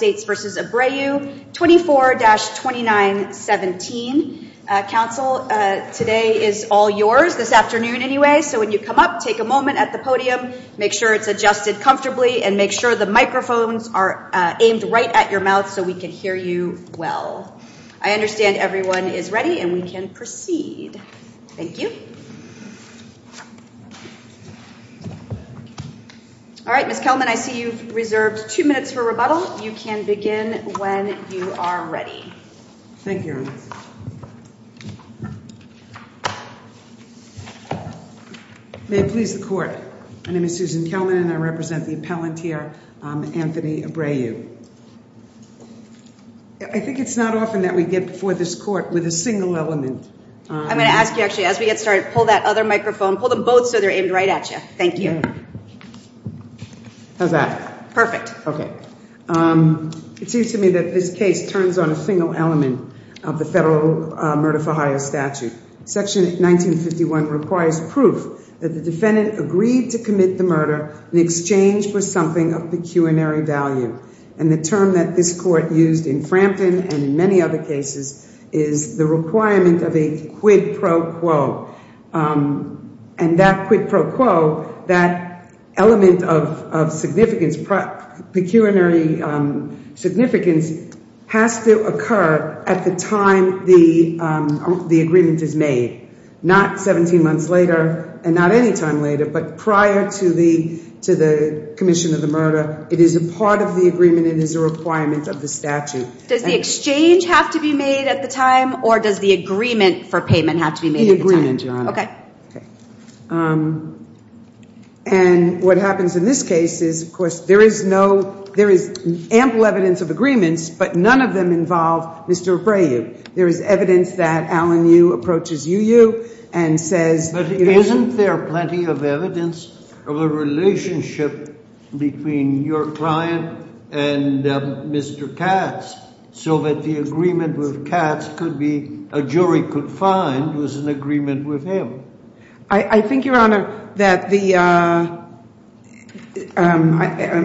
24-2917. Council, today is all yours, this afternoon anyway, so when you come up, take a moment at the podium, make sure it's adjusted comfortably and make sure the microphones are aimed right at your mouth so we can hear you well. I understand everyone is ready and we can proceed. Thank you. All right, Ms. Kelman, I see you've reserved two minutes for rebuttal. You can begin when you are ready. Thank you. May it please the court. My name is Susan Kelman and I represent the appellant here, Anthony Abreu. I think it's not often that we get before this court with a single element. I'm going to ask you, actually, as we get started, pull that other microphone, pull them both so they're aimed right at you. Thank you. How's that? Okay. It seems to me that this case turns on a single element of the federal murder for hire statute. Section 1951 requires proof that the defendant agreed to commit the murder in exchange for something of pecuniary value. And the term that this court used in Frampton and in many other cases is the requirement of a quid pro quo. And that quid pro quo, that element of significance, pecuniary significance, has to occur at the time the agreement is made. Not 17 months later and not any time later, but prior to the commission of the murder. It is a part of the agreement. It is a requirement of the statute. Does the exchange have to be made at the time or does the agreement for payment have to be made at the time? The agreement, Your Honor. Okay. And what happens in this case is, of course, there is ample evidence of agreements, but none of them involve Mr. Abreu. There is evidence that Alan Yu approaches Yu Yu and says... But isn't there plenty of evidence of a relationship between your client and Mr. Katz so that the agreement with Katz could be a jury could find was an agreement with him? I think, Your Honor, that the — I'm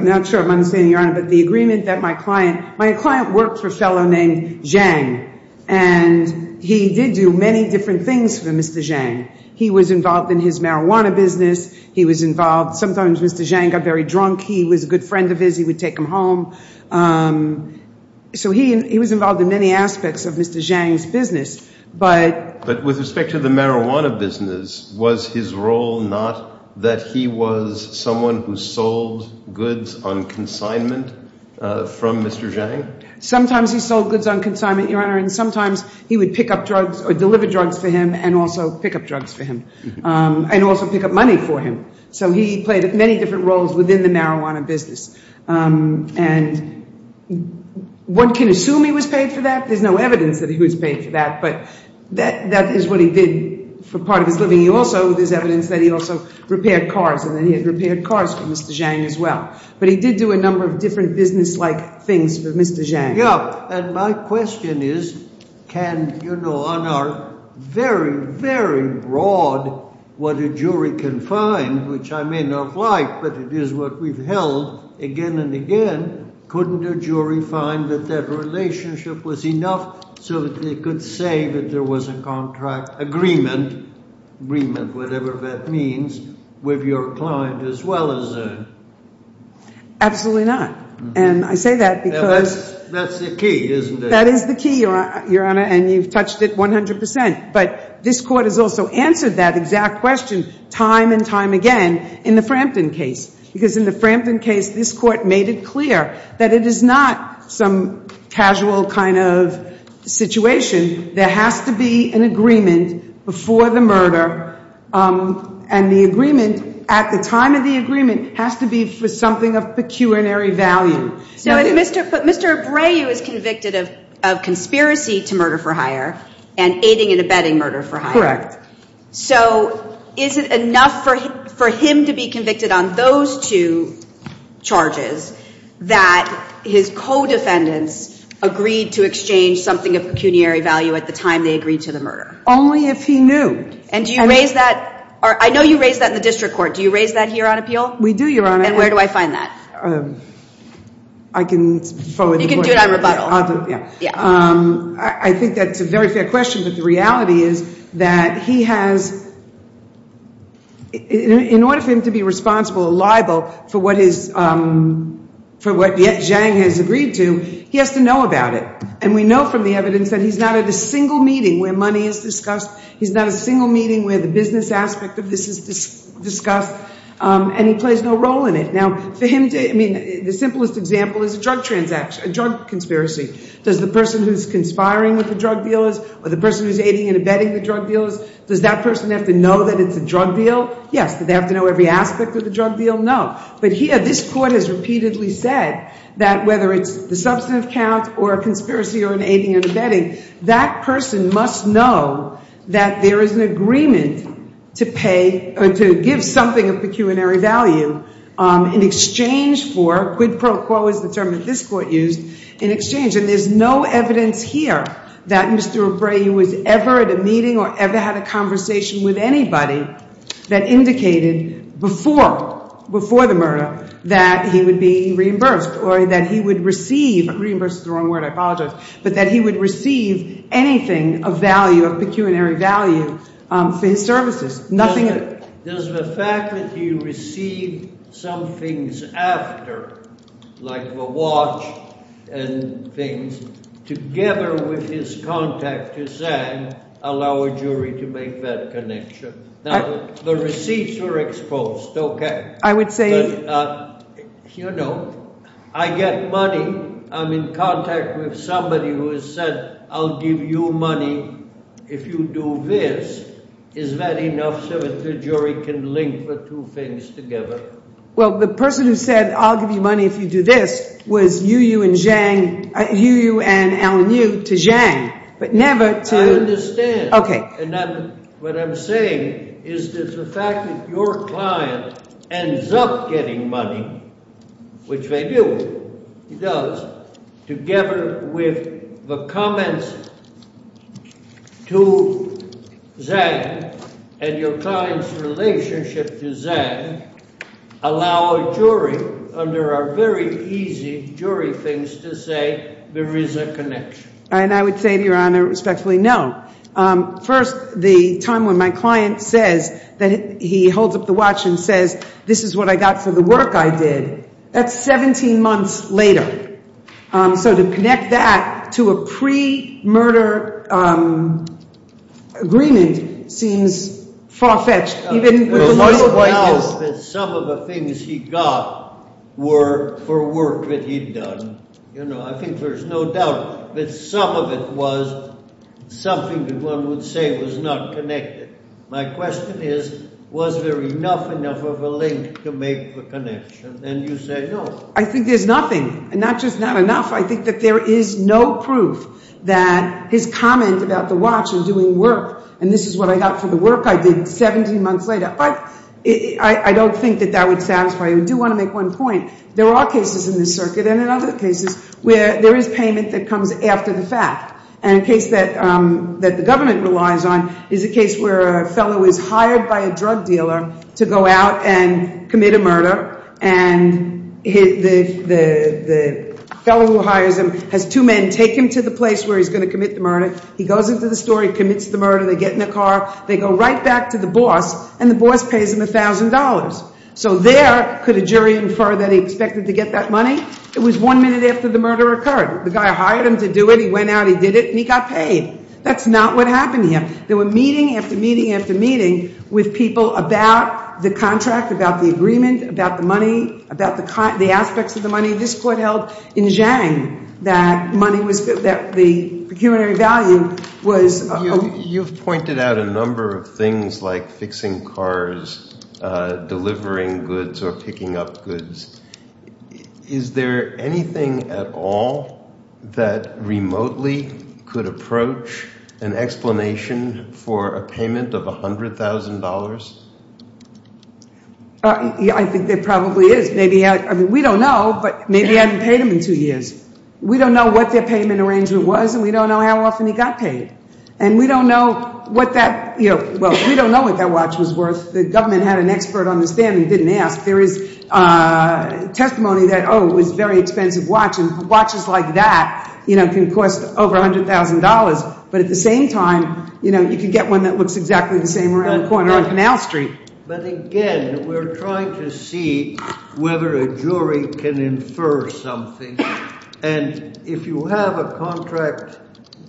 not sure if I'm understanding, Your Honor, but the agreement that my client — my client worked for a fellow named Zhang. And he did do many different things for Mr. Zhang. He was involved in his marijuana business. He was involved — sometimes Mr. Zhang got very drunk. He was a good friend of his. He would take him home. So he was involved in many aspects of Mr. Zhang's business. But with respect to the marijuana business, was his role not that he was someone who sold goods on consignment from Mr. Zhang? Sometimes he sold goods on consignment, Your Honor, and sometimes he would pick up drugs or deliver drugs for him and also pick up drugs for him and also pick up money for him. So he played many different roles within the marijuana business. And one can assume he was paid for that. There's no evidence that he was paid for that. But that is what he did for part of his living. He also — there's evidence that he also repaired cars and that he had repaired cars for Mr. Zhang as well. But he did do a number of different business-like things for Mr. Zhang. And my question is, can, you know, on our very, very broad, what a jury can find, which I may not like, but it is what we've held again and again, couldn't a jury find that that relationship was enough so that they could say that there was a contract agreement, agreement, whatever that means, with your client as well as — Absolutely not. And I say that because — That's the key, isn't it? That is the key, Your Honor, and you've touched it 100 percent. But this Court has also answered that exact question time and time again in the Frampton case. Because in the Frampton case, this Court made it clear that it is not some casual kind of situation. There has to be an agreement before the murder, and the agreement, at the time of the agreement, has to be for something of pecuniary value. But Mr. Abreu is convicted of conspiracy to murder for hire and aiding and abetting murder for hire. Correct. So is it enough for him to be convicted on those two charges that his co-defendants agreed to exchange something of pecuniary value at the time they agreed to the murder? Only if he knew. And do you raise that — I know you raise that in the district court. Do you raise that here on appeal? We do, Your Honor. And where do I find that? I can — You can do it on rebuttal. I think that's a very fair question, but the reality is that he has — in order for him to be responsible or liable for what his — for what Zhang has agreed to, he has to know about it. And we know from the evidence that he's not at a single meeting where money is discussed. He's not at a single meeting where the business aspect of this is discussed. And he plays no role in it. Now, for him to — I mean, the simplest example is a drug transaction — a drug conspiracy. Does the person who's conspiring with the drug dealers or the person who's aiding and abetting the drug dealers, does that person have to know that it's a drug deal? Yes. Do they have to know every aspect of the drug deal? No. But here, this Court has repeatedly said that whether it's the substantive count or a conspiracy or an aiding and abetting, that person must know that there is an agreement to pay — or to give something of pecuniary value in exchange for — quid pro quo is the term that this Court used — in exchange. And there's no evidence here that Mr. Abreu was ever at a meeting or ever had a conversation with anybody that indicated before — before the murder that he would be reimbursed or that he would receive — reimbursed is the wrong word. I apologize. But that he would receive anything of value, of pecuniary value for his services. Does the fact that he received some things after, like the watch and things, together with his contact to Zang, allow a jury to make that connection? The receipts were exposed, okay. I would say — You know, I get money. I'm in contact with somebody who has said, I'll give you money if you do this. Is that enough so that the jury can link the two things together? Well, the person who said, I'll give you money if you do this, was Yu Yu and Zang — Yu Yu and Alan Yu to Zang, but never to — I understand. Okay. And then what I'm saying is that the fact that your client ends up getting money, which they do, he does, together with the comments to Zang and your client's relationship to Zang, allow a jury, under our very easy jury things, to say there is a connection. And I would say to Your Honor, respectfully, no. First, the time when my client says — he holds up the watch and says, this is what I got for the work I did, that's 17 months later. So to connect that to a pre-murder agreement seems far-fetched. I think there's no doubt that some of the things he got were for work that he'd done. You know, I think there's no doubt that some of it was something that one would say was not connected. My question is, was there enough enough of a link to make the connection? And you say, no. I think there's nothing. And not just not enough. I think that there is no proof that his comment about the watch and doing work, and this is what I got for the work I did 17 months later. But I don't think that that would satisfy you. I do want to make one point. There are cases in this circuit and in other cases where there is payment that comes after the fact. And a case that the government relies on is a case where a fellow is hired by a drug dealer to go out and commit a murder. And the fellow who hires him has two men take him to the place where he's going to commit the murder. He goes into the store. He commits the murder. They get in the car. They go right back to the boss, and the boss pays him $1,000. So there could a jury infer that he expected to get that money? It was one minute after the murder occurred. The guy hired him to do it. He went out, he did it, and he got paid. That's not what happened here. There were meeting after meeting after meeting with people about the contract, about the agreement, about the money, about the aspects of the money. This court held in Zhang that money was, that the pecuniary value was. You've pointed out a number of things like fixing cars, delivering goods, or picking up goods. Is there anything at all that remotely could approach an explanation for a payment of $100,000? I think there probably is. We don't know, but maybe he hadn't paid them in two years. We don't know what their payment arrangement was, and we don't know how often he got paid. And we don't know what that, well, we don't know what that watch was worth. The government had an expert on the stand and didn't ask. There is testimony that, oh, it was a very expensive watch, and watches like that can cost over $100,000. But at the same time, you can get one that looks exactly the same around the corner on Canal Street. But again, we're trying to see whether a jury can infer something. And if you have a contract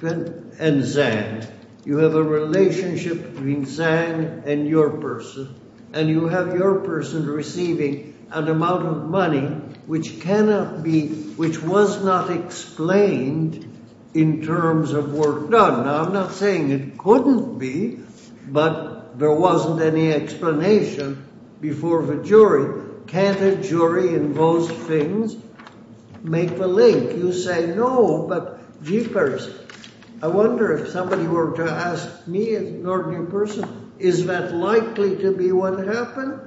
and Zhang, you have a relationship between Zhang and your person, and you have your person receiving an amount of money which cannot be, which was not explained in terms of work done. Now, I'm not saying it couldn't be, but there wasn't any explanation before the jury. Can't a jury in those things make the link? You say no, but Jeepers, I wonder if somebody were to ask me as an ordinary person, is that likely to be what happened,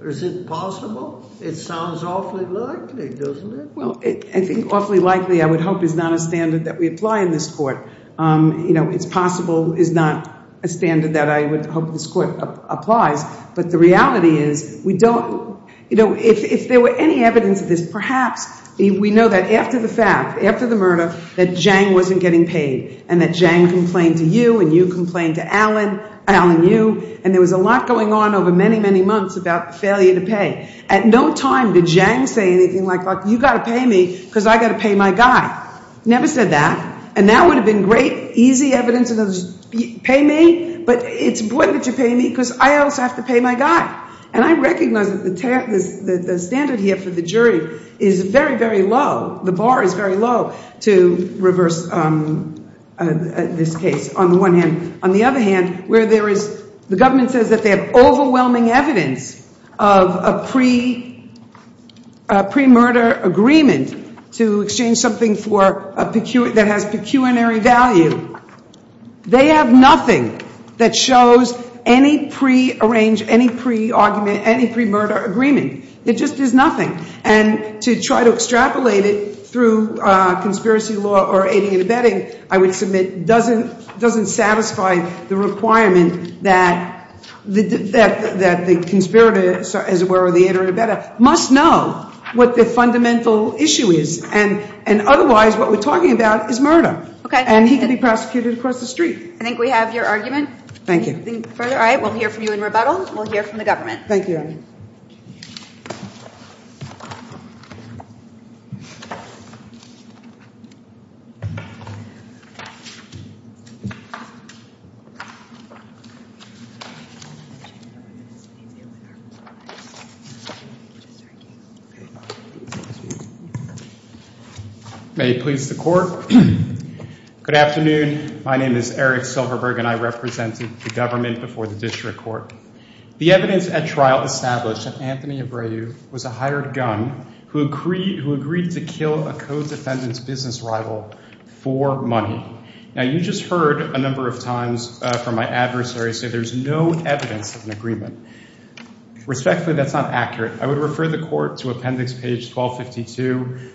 or is it possible? It sounds awfully likely, doesn't it? Well, I think awfully likely, I would hope, is not a standard that we apply in this court. You know, it's possible is not a standard that I would hope this court applies. But the reality is we don't, you know, if there were any evidence of this, perhaps we know that after the fact, after the murder, that Zhang wasn't getting paid, and that Zhang complained to you, and you complained to Alan, Alan Yu, and there was a lot going on over many, many months about failure to pay. At no time did Zhang say anything like, look, you've got to pay me because I've got to pay my guy. Never said that. And that would have been great, easy evidence of those, pay me, but it's important that you pay me because I also have to pay my guy. And I recognize that the standard here for the jury is very, very low. The bar is very low to reverse this case on the one hand. On the other hand, where there is, the government says that they have overwhelming evidence of a pre-murder agreement to exchange something that has pecuniary value. They have nothing that shows any pre-arrange, any pre-argument, any pre-murder agreement. It just is nothing. And to try to extrapolate it through conspiracy law or aiding and abetting, I would submit, doesn't satisfy the requirement that the conspirator, as it were, or the aid or abetter, must know what the fundamental issue is. And otherwise, what we're talking about is murder. And he could be prosecuted across the street. I think we have your argument. Thank you. All right. We'll hear from you in rebuttal. We'll hear from the government. Thank you. May it please the Court. Good afternoon. My name is Eric Silverberg, and I represented the government before the district court. The evidence at trial established that Anthony Abreu was a hired gun who agreed to kill a co-defendant's business rival for money. Now, you just heard a number of times from my adversary say there's no evidence of an agreement. Respectfully, that's not accurate. I would refer the Court to Appendix Page 1252.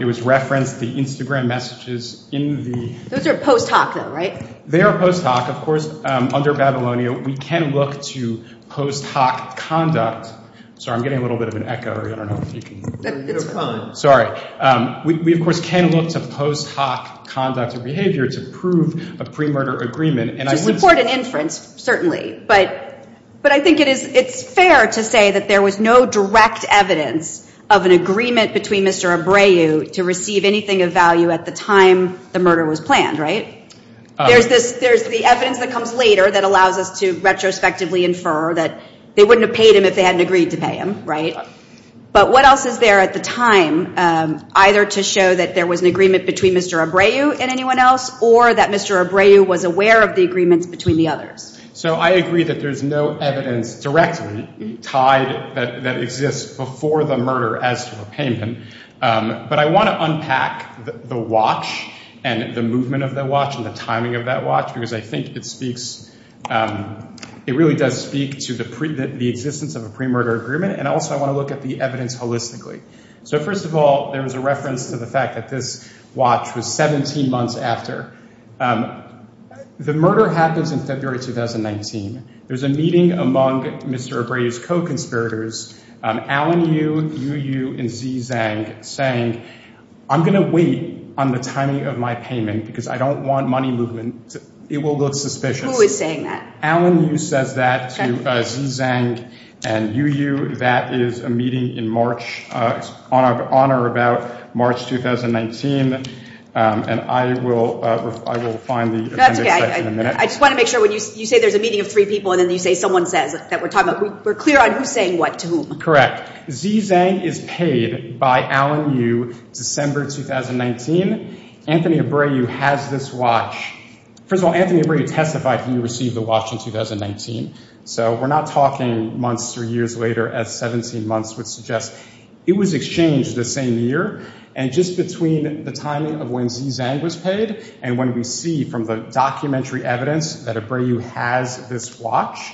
It was referenced, the Instagram messages in the— Those are post hoc, though, right? They are post hoc. Of course, under Babylonia, we can look to post hoc conduct. Sorry, I'm getting a little bit of an echo. I don't know if you can hear me. It's fine. Sorry. We, of course, can look to post hoc conduct or behavior to prove a pre-murder agreement. To support an inference, certainly. But I think it's fair to say that there was no direct evidence of an agreement between Mr. Abreu to receive anything of value at the time the murder was planned, right? There's the evidence that comes later that allows us to retrospectively infer that they wouldn't have paid him if they hadn't agreed to pay him, right? But what else is there at the time, either to show that there was an agreement between Mr. Abreu and anyone else or that Mr. Abreu was aware of the agreements between the others? So I agree that there's no evidence directly tied that exists before the murder as to repayment. But I want to unpack the watch and the movement of the watch and the timing of that watch because I think it really does speak to the existence of a pre-murder agreement, and also I want to look at the evidence holistically. So first of all, there was a reference to the fact that this watch was 17 months after. The murder happens in February 2019. There's a meeting among Mr. Abreu's co-conspirators, Alan Yu, Yu Yu, and Xi Zhang, saying, I'm going to wait on the timing of my payment because I don't want money movement. It will look suspicious. Who is saying that? Alan Yu says that to Xi Zhang and Yu Yu. That is a meeting in March, on or about March 2019. And I will find the appendix in a minute. I just want to make sure when you say there's a meeting of three people and then you say someone says, that we're clear on who's saying what to whom. Correct. Xi Zhang is paid by Alan Yu December 2019. Anthony Abreu has this watch. First of all, Anthony Abreu testified he received the watch in 2019. So we're not talking months or years later as 17 months would suggest. It was exchanged the same year. And just between the timing of when Xi Zhang was paid and when we see from the documentary evidence that Abreu has this watch,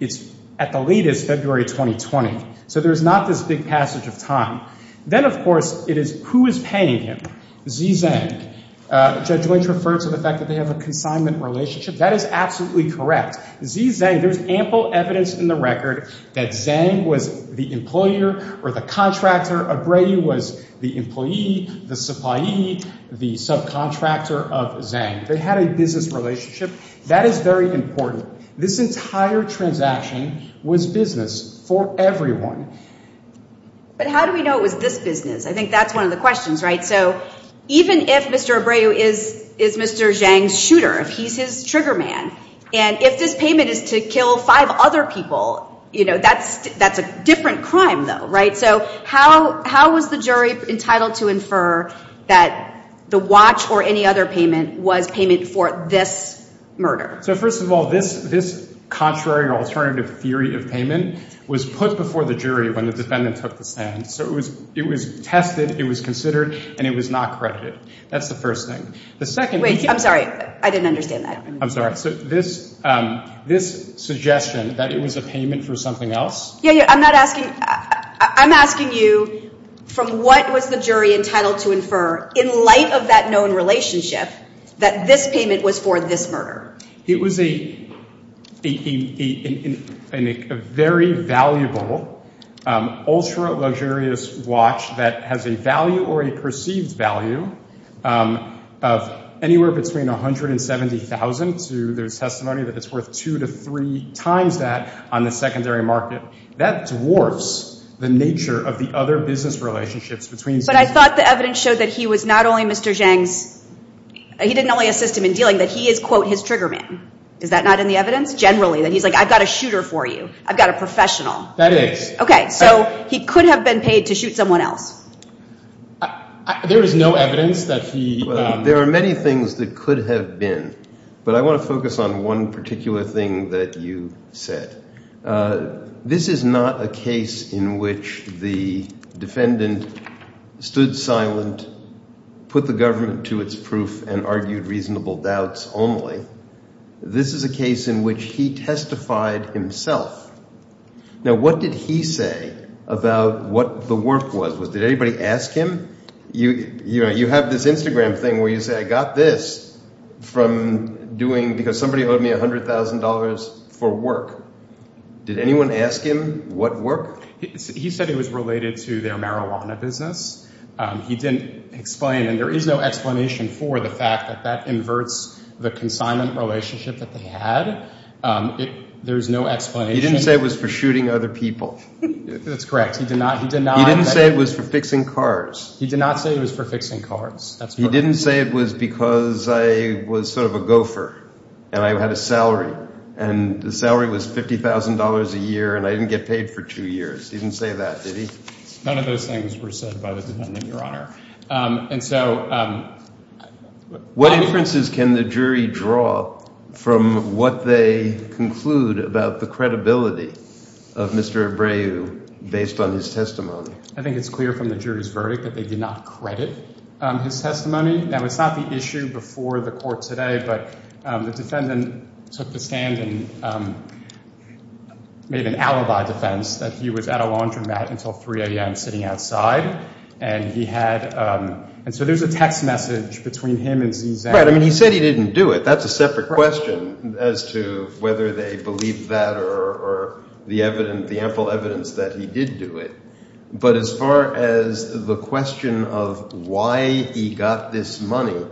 it's at the latest February 2020. So there's not this big passage of time. Then, of course, it is who is paying him, Xi Zhang. Judge Lynch referred to the fact that they have a consignment relationship. That is absolutely correct. Xi Zhang, there's ample evidence in the record that Zhang was the employer or the contractor. Abreu was the employee, the supplier, the subcontractor of Zhang. They had a business relationship. That is very important. This entire transaction was business for everyone. But how do we know it was this business? I think that's one of the questions, right? So even if Mr. Abreu is Mr. Zhang's shooter, if he's his trigger man, and if this payment is to kill five other people, you know, that's a different crime, though, right? So how was the jury entitled to infer that the watch or any other payment was payment for this murder? So first of all, this contrary or alternative theory of payment was put before the jury when the defendant took the stand. So it was tested, it was considered, and it was not credited. That's the first thing. Wait, I'm sorry. I didn't understand that. I'm sorry. So this suggestion that it was a payment for something else? Yeah, yeah. I'm asking you from what was the jury entitled to infer in light of that known relationship that this payment was for this murder? It was a very valuable, ultra-luxurious watch that has a value or a perceived value of anywhere between $170,000. There's testimony that it's worth two to three times that on the secondary market. That dwarfs the nature of the other business relationships between citizens. But I thought the evidence showed that he was not only Mr. Zhang's – he didn't only assist him in dealing, that he is, quote, his trigger man. Is that not in the evidence? Generally, that he's like, I've got a shooter for you. I've got a professional. That is. Okay, so he could have been paid to shoot someone else. There is no evidence that he – There are many things that could have been, but I want to focus on one particular thing that you said. This is not a case in which the defendant stood silent, put the government to its proof, and argued reasonable doubts only. This is a case in which he testified himself. Now, what did he say about what the work was? Did anybody ask him? You have this Instagram thing where you say, I got this from doing – because somebody owed me $100,000 for work. Did anyone ask him what work? He said it was related to their marijuana business. He didn't explain, and there is no explanation for the fact that that inverts the consignment relationship that they had. There's no explanation. He didn't say it was for shooting other people. That's correct. He did not. He didn't say it was for fixing cars. He did not say it was for fixing cars. He didn't say it was because I was sort of a gopher and I had a salary, and the salary was $50,000 a year and I didn't get paid for two years. He didn't say that, did he? None of those things were said by the defendant, Your Honor. And so what inferences can the jury draw from what they conclude about the credibility of Mr. Ebreu based on his testimony? I think it's clear from the jury's verdict that they did not credit his testimony. Now, it's not the issue before the court today, but the defendant took the stand and made an alibi defense that he was at a laundromat until 3 a.m. sitting outside, and he had – and so there's a text message between him and ZZ. Right. I mean he said he didn't do it. That's a separate question as to whether they believe that or the evidence – the ample evidence that he did do it. But as far as the question of why he got this money,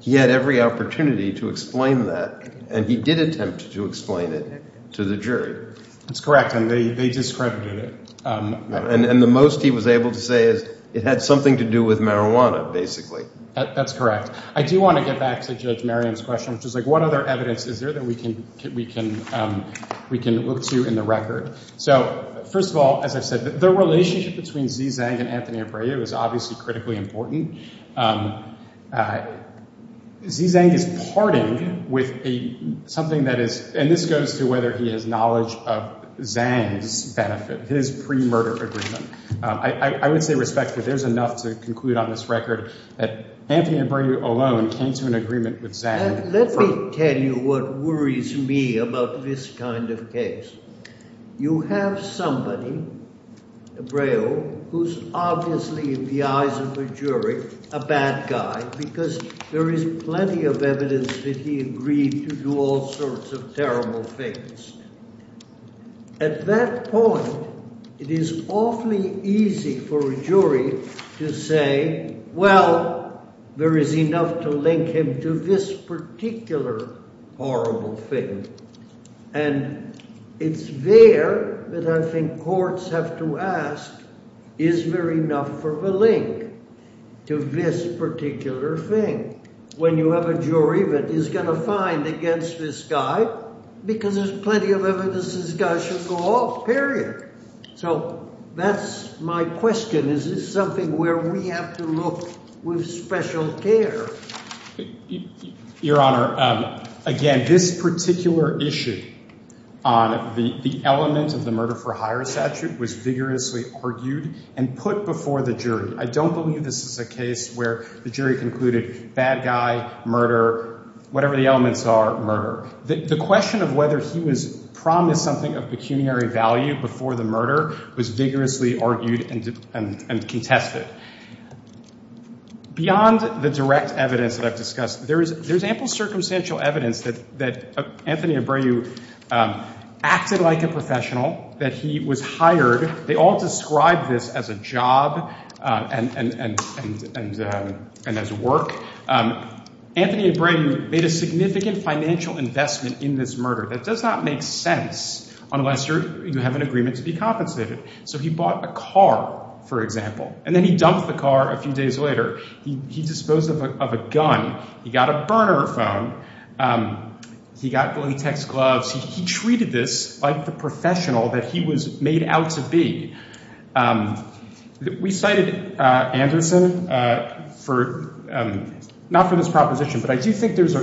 he had every opportunity to explain that, and he did attempt to explain it to the jury. That's correct, and they discredited it. And the most he was able to say is it had something to do with marijuana, basically. That's correct. I do want to get back to Judge Merriam's question, which is like what other evidence is there that we can look to in the record? So first of all, as I've said, the relationship between ZZ and Anthony Ebreu is obviously critically important. ZZ is parting with something that is – and this goes to whether he has knowledge of Zang's benefit, his pre-murder agreement. I would say respectfully there's enough to conclude on this record that Anthony Ebreu alone came to an agreement with Zang. Let me tell you what worries me about this kind of case. You have somebody, Ebreu, who's obviously in the eyes of a jury a bad guy because there is plenty of evidence that he agreed to do all sorts of terrible things. At that point, it is awfully easy for a jury to say, well, there is enough to link him to this particular horrible thing. And it's there that I think courts have to ask, is there enough for the link to this particular thing? When you have a jury that is going to find against this guy because there's plenty of evidence this guy should go off, period. So that's my question. Is this something where we have to look with special care? Your Honor, again, this particular issue on the element of the murder-for-hire statute was vigorously argued and put before the jury. I don't believe this is a case where the jury concluded bad guy, murder, whatever the elements are, murder. The question of whether he was promised something of pecuniary value before the murder was vigorously argued and contested. Beyond the direct evidence that I've discussed, there is ample circumstantial evidence that Anthony Ebreu acted like a professional, that he was hired. They all describe this as a job and as work. Anthony Ebreu made a significant financial investment in this murder. That does not make sense unless you have an agreement to be compensated. So he bought a car, for example, and then he dumped the car a few days later. He disposed of a gun. He got a burner phone. He got latex gloves. He treated this like the professional that he was made out to be. We cited Anderson for, not for this proposition, but I do think there's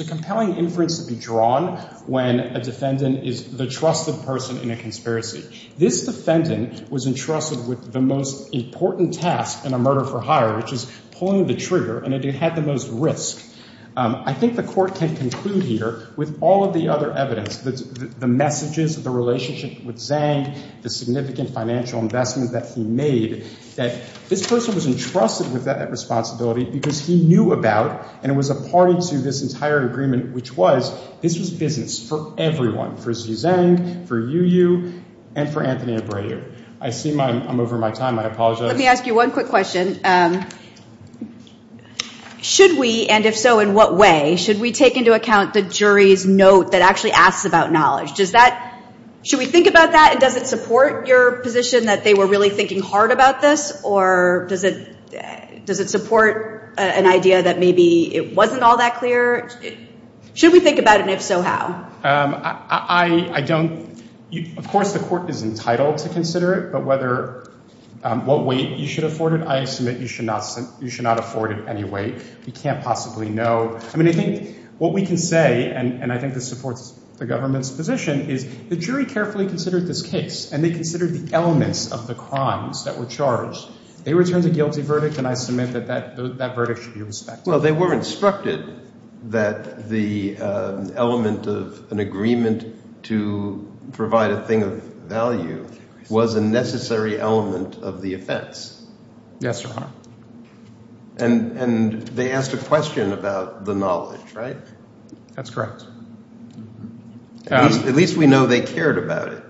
a compelling inference to be drawn when a defendant is the trusted person in a conspiracy. This defendant was entrusted with the most important task in a murder-for-hire, which is pulling the trigger, and it had the most risk. I think the Court can conclude here with all of the other evidence, the messages, the relationship with Zhang, the significant financial investment that he made, that this person was entrusted with that responsibility because he knew about, and it was a party to this entire agreement, which was this was business for everyone, for Xu Zhang, for Yu Yu, and for Anthony Ebreu. I see I'm over my time. I apologize. Let me ask you one quick question. Should we, and if so, in what way? Should we take into account the jury's note that actually asks about knowledge? Should we think about that, and does it support your position that they were really thinking hard about this, or does it support an idea that maybe it wasn't all that clear? Should we think about it, and if so, how? I don't—of course, the Court is entitled to consider it, but whether—what weight you should afford it, I assume that you should not afford it any weight. We can't possibly know. I mean, I think what we can say, and I think this supports the government's position, is the jury carefully considered this case, and they considered the elements of the crimes that were charged. They returned a guilty verdict, and I submit that that verdict should be respected. Well, they were instructed that the element of an agreement to provide a thing of value was a necessary element of the offense. Yes, Your Honor. And they asked a question about the knowledge, right? That's correct. At least we know they cared about it.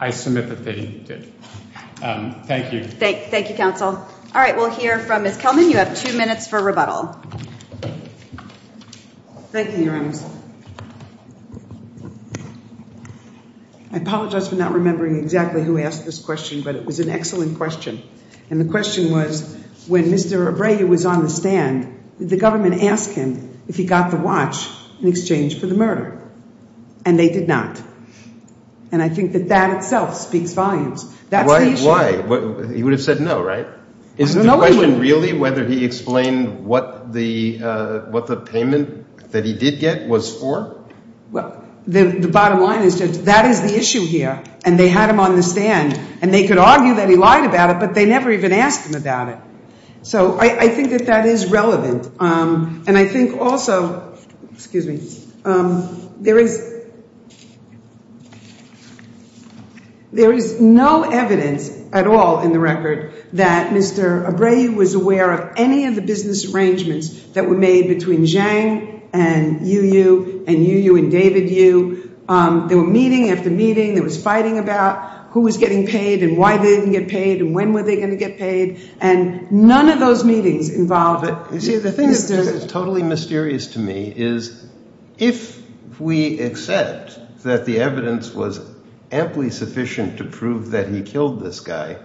I submit that they did. Thank you. Thank you, Counsel. All right, we'll hear from Ms. Kelman. You have two minutes for rebuttal. Thank you, Your Honor. I apologize for not remembering exactly who asked this question, but it was an excellent question. And the question was, when Mr. Abreu was on the stand, did the government ask him if he got the watch in exchange for the murder? And they did not. And I think that that itself speaks volumes. Why? He would have said no, right? Is the question really whether he explained what the payment that he did get was for? Well, the bottom line is that that is the issue here, and they had him on the stand. And they could argue that he lied about it, but they never even asked him about it. So I think that that is relevant. And I think also there is no evidence at all in the record that Mr. Abreu was aware of any of the business arrangements that were made between Zhang and Yu Yu and Yu Yu and David Yu. They were meeting after meeting. They were fighting about who was getting paid and why they didn't get paid and when were they going to get paid. And none of those meetings involved business. The thing that is totally mysterious to me is if we accept that the evidence was amply sufficient to prove that he killed this guy,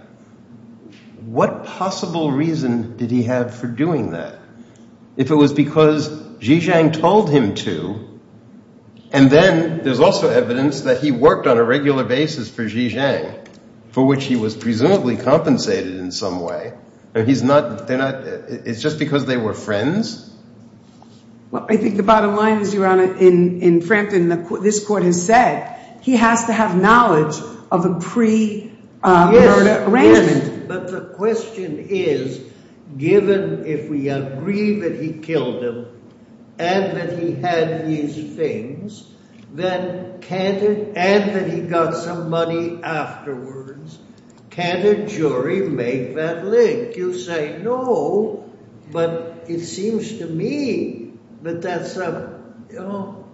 what possible reason did he have for doing that? If it was because Xi Zhang told him to, and then there's also evidence that he worked on a regular basis for Xi Zhang, for which he was presumably compensated in some way. It's just because they were friends? Well, I think the bottom line is, Your Honor, in Frampton, this court has said he has to have knowledge of a pre-murder arrangement. But the question is, given if we agree that he killed him and that he had these things and that he got some money afterwards, can a jury make that link? You say no, but it seems to me that that's a, you know,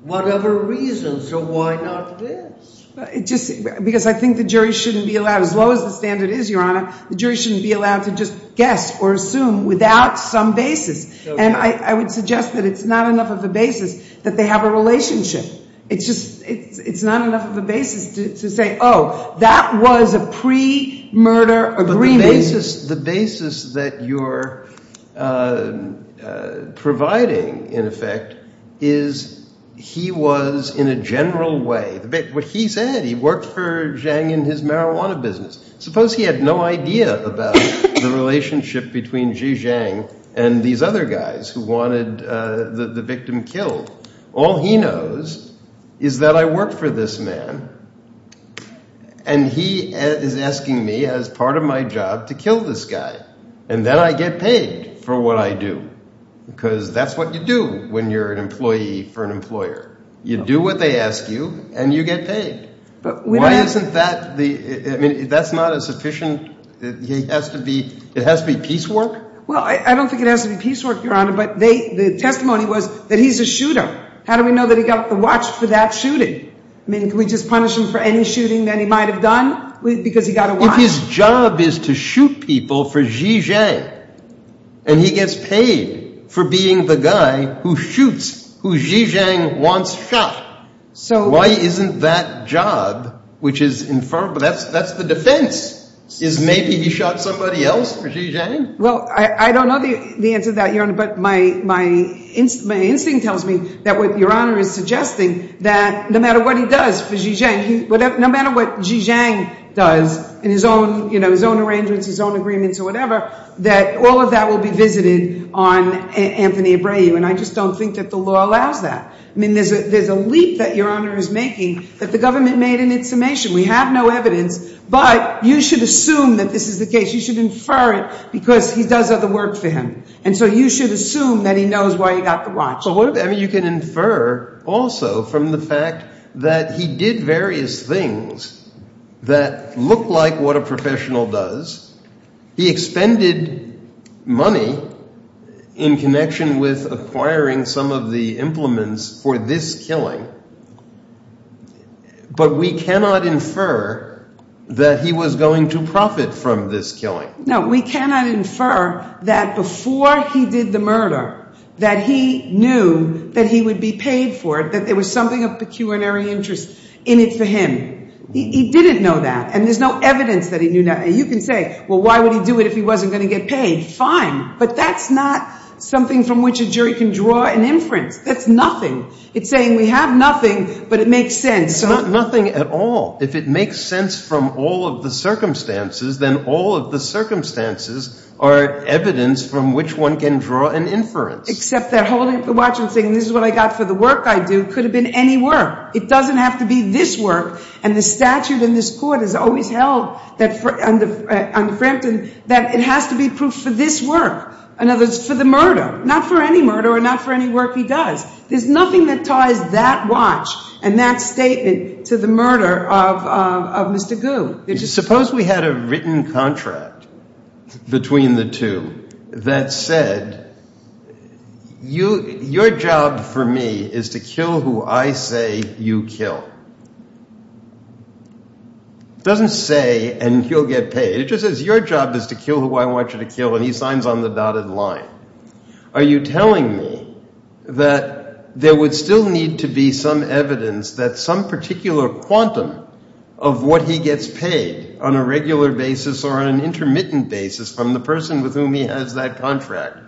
whatever reason, so why not this? Because I think the jury shouldn't be allowed, as low as the standard is, Your Honor, the jury shouldn't be allowed to just guess or assume without some basis. And I would suggest that it's not enough of a basis that they have a relationship. It's not enough of a basis to say, oh, that was a pre-murder agreement. The basis that you're providing, in effect, is he was in a general way – what he said, he worked for Zhang in his marijuana business. Suppose he had no idea about the relationship between Xi Zhang and these other guys who wanted the victim killed. All he knows is that I work for this man, and he is asking me as part of my job to kill this guy. And then I get paid for what I do, because that's what you do when you're an employee for an employer. You do what they ask you, and you get paid. Why isn't that – I mean, that's not a sufficient – it has to be – it has to be piecework? Well, I don't think it has to be piecework, Your Honor, but they – the testimony was that he's a shooter. How do we know that he got the watch for that shooting? I mean, can we just punish him for any shooting that he might have done because he got a watch? If his job is to shoot people for Xi Zhang, and he gets paid for being the guy who shoots who Xi Zhang wants shot, why isn't that job, which is – that's the defense, is maybe he shot somebody else for Xi Zhang? Well, I don't know the answer to that, Your Honor, but my instinct tells me that what Your Honor is suggesting, that no matter what he does for Xi Zhang, no matter what Xi Zhang does in his own arrangements, his own agreements or whatever, that all of that will be visited on Anthony Abreu, and I just don't think that the law allows that. I mean, there's a leap that Your Honor is making that the government made in its summation. We have no evidence, but you should assume that this is the case. You should infer it because he does other work for him, and so you should assume that he knows why he got the watch. But what if – I mean, you can infer also from the fact that he did various things that look like what a professional does. He expended money in connection with acquiring some of the implements for this killing, but we cannot infer that he was going to profit from this killing. No, we cannot infer that before he did the murder that he knew that he would be paid for it, that there was something of pecuniary interest in it for him. He didn't know that, and there's no evidence that he knew – you can say, well, why would he do it if he wasn't going to get paid? Fine, but that's not something from which a jury can draw an inference. That's nothing. It's saying we have nothing, but it makes sense. It's not nothing at all. If it makes sense from all of the circumstances, then all of the circumstances are evidence from which one can draw an inference. Except that holding up the watch and saying this is what I got for the work I do could have been any work. It doesn't have to be this work, and the statute in this court has always held under Frampton that it has to be proof for this work, in other words, for the murder. Not for any murder or not for any work he does. There's nothing that ties that watch and that statement to the murder of Mr. Gu. Suppose we had a written contract between the two that said your job for me is to kill who I say you kill. It doesn't say, and he'll get paid. It just says your job is to kill who I want you to kill, and he signs on the dotted line. Are you telling me that there would still need to be some evidence that some particular quantum of what he gets paid on a regular basis or on an intermittent basis from the person with whom he has that contract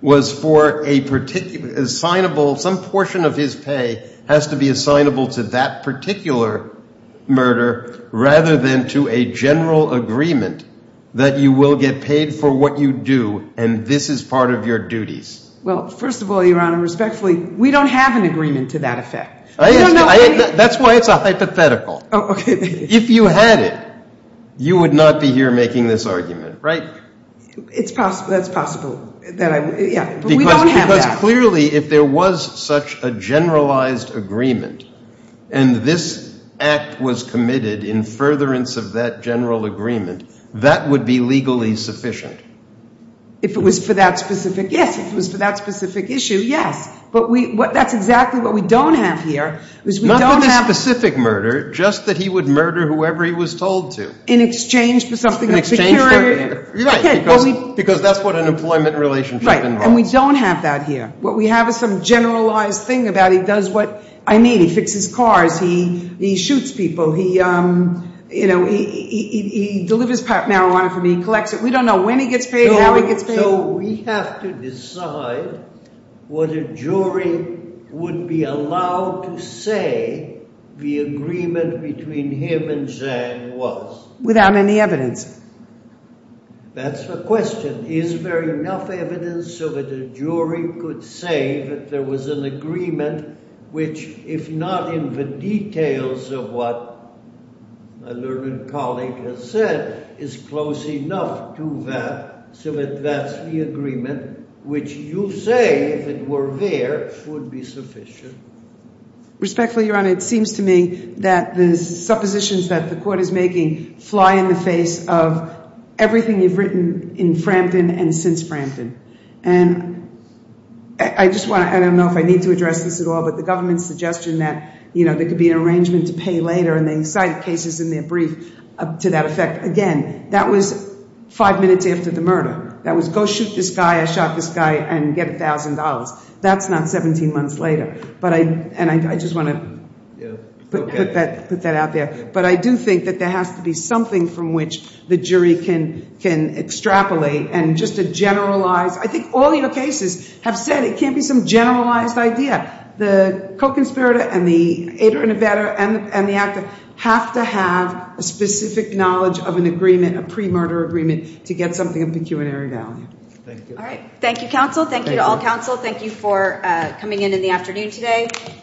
was for a particular assignable, some portion of his pay has to be assignable to that particular murder rather than to a general agreement that you will get paid for what you do and this is part of your duties? Well, first of all, Your Honor, respectfully, we don't have an agreement to that effect. That's why it's a hypothetical. If you had it, you would not be here making this argument, right? That's possible. Because clearly if there was such a generalized agreement and this act was committed in furtherance of that general agreement, that would be legally sufficient. If it was for that specific, yes, if it was for that specific issue, yes. But that's exactly what we don't have here. Not for the specific murder, just that he would murder whoever he was told to. In exchange for something of security? Because that's what an employment relationship involves. Right, and we don't have that here. What we have is some generalized thing about he does what, I mean, he fixes cars, he shoots people, he delivers marijuana for me, he collects it. We don't know when he gets paid, how he gets paid. So we have to decide what a jury would be allowed to say the agreement between him and Zhang was? Without any evidence. That's the question. Is there enough evidence so that a jury could say that there was an agreement which, if not in the details of what my learned colleague has said, is close enough to that, so that that's the agreement, which you say, if it were there, would be sufficient? Respectfully, Your Honor, it seems to me that the suppositions that the court is making fly in the face of everything you've written in Frampton and since Frampton. And I just want to, I don't know if I need to address this at all, but the government's suggestion that, you know, there could be an arrangement to pay later, and they cite cases in their brief to that effect. Again, that was five minutes after the murder. That was, go shoot this guy, I shot this guy, and get $1,000. That's not 17 months later. And I just want to put that out there. But I do think that there has to be something from which the jury can extrapolate and just to generalize. I think all your cases have said it can't be some generalized idea. The co-conspirator and the aider and abetter and the actor have to have a specific knowledge of an agreement, a pre-murder agreement, to get something of pecuniary value. Thank you. Thank you all. Thank you for coming in in the afternoon today.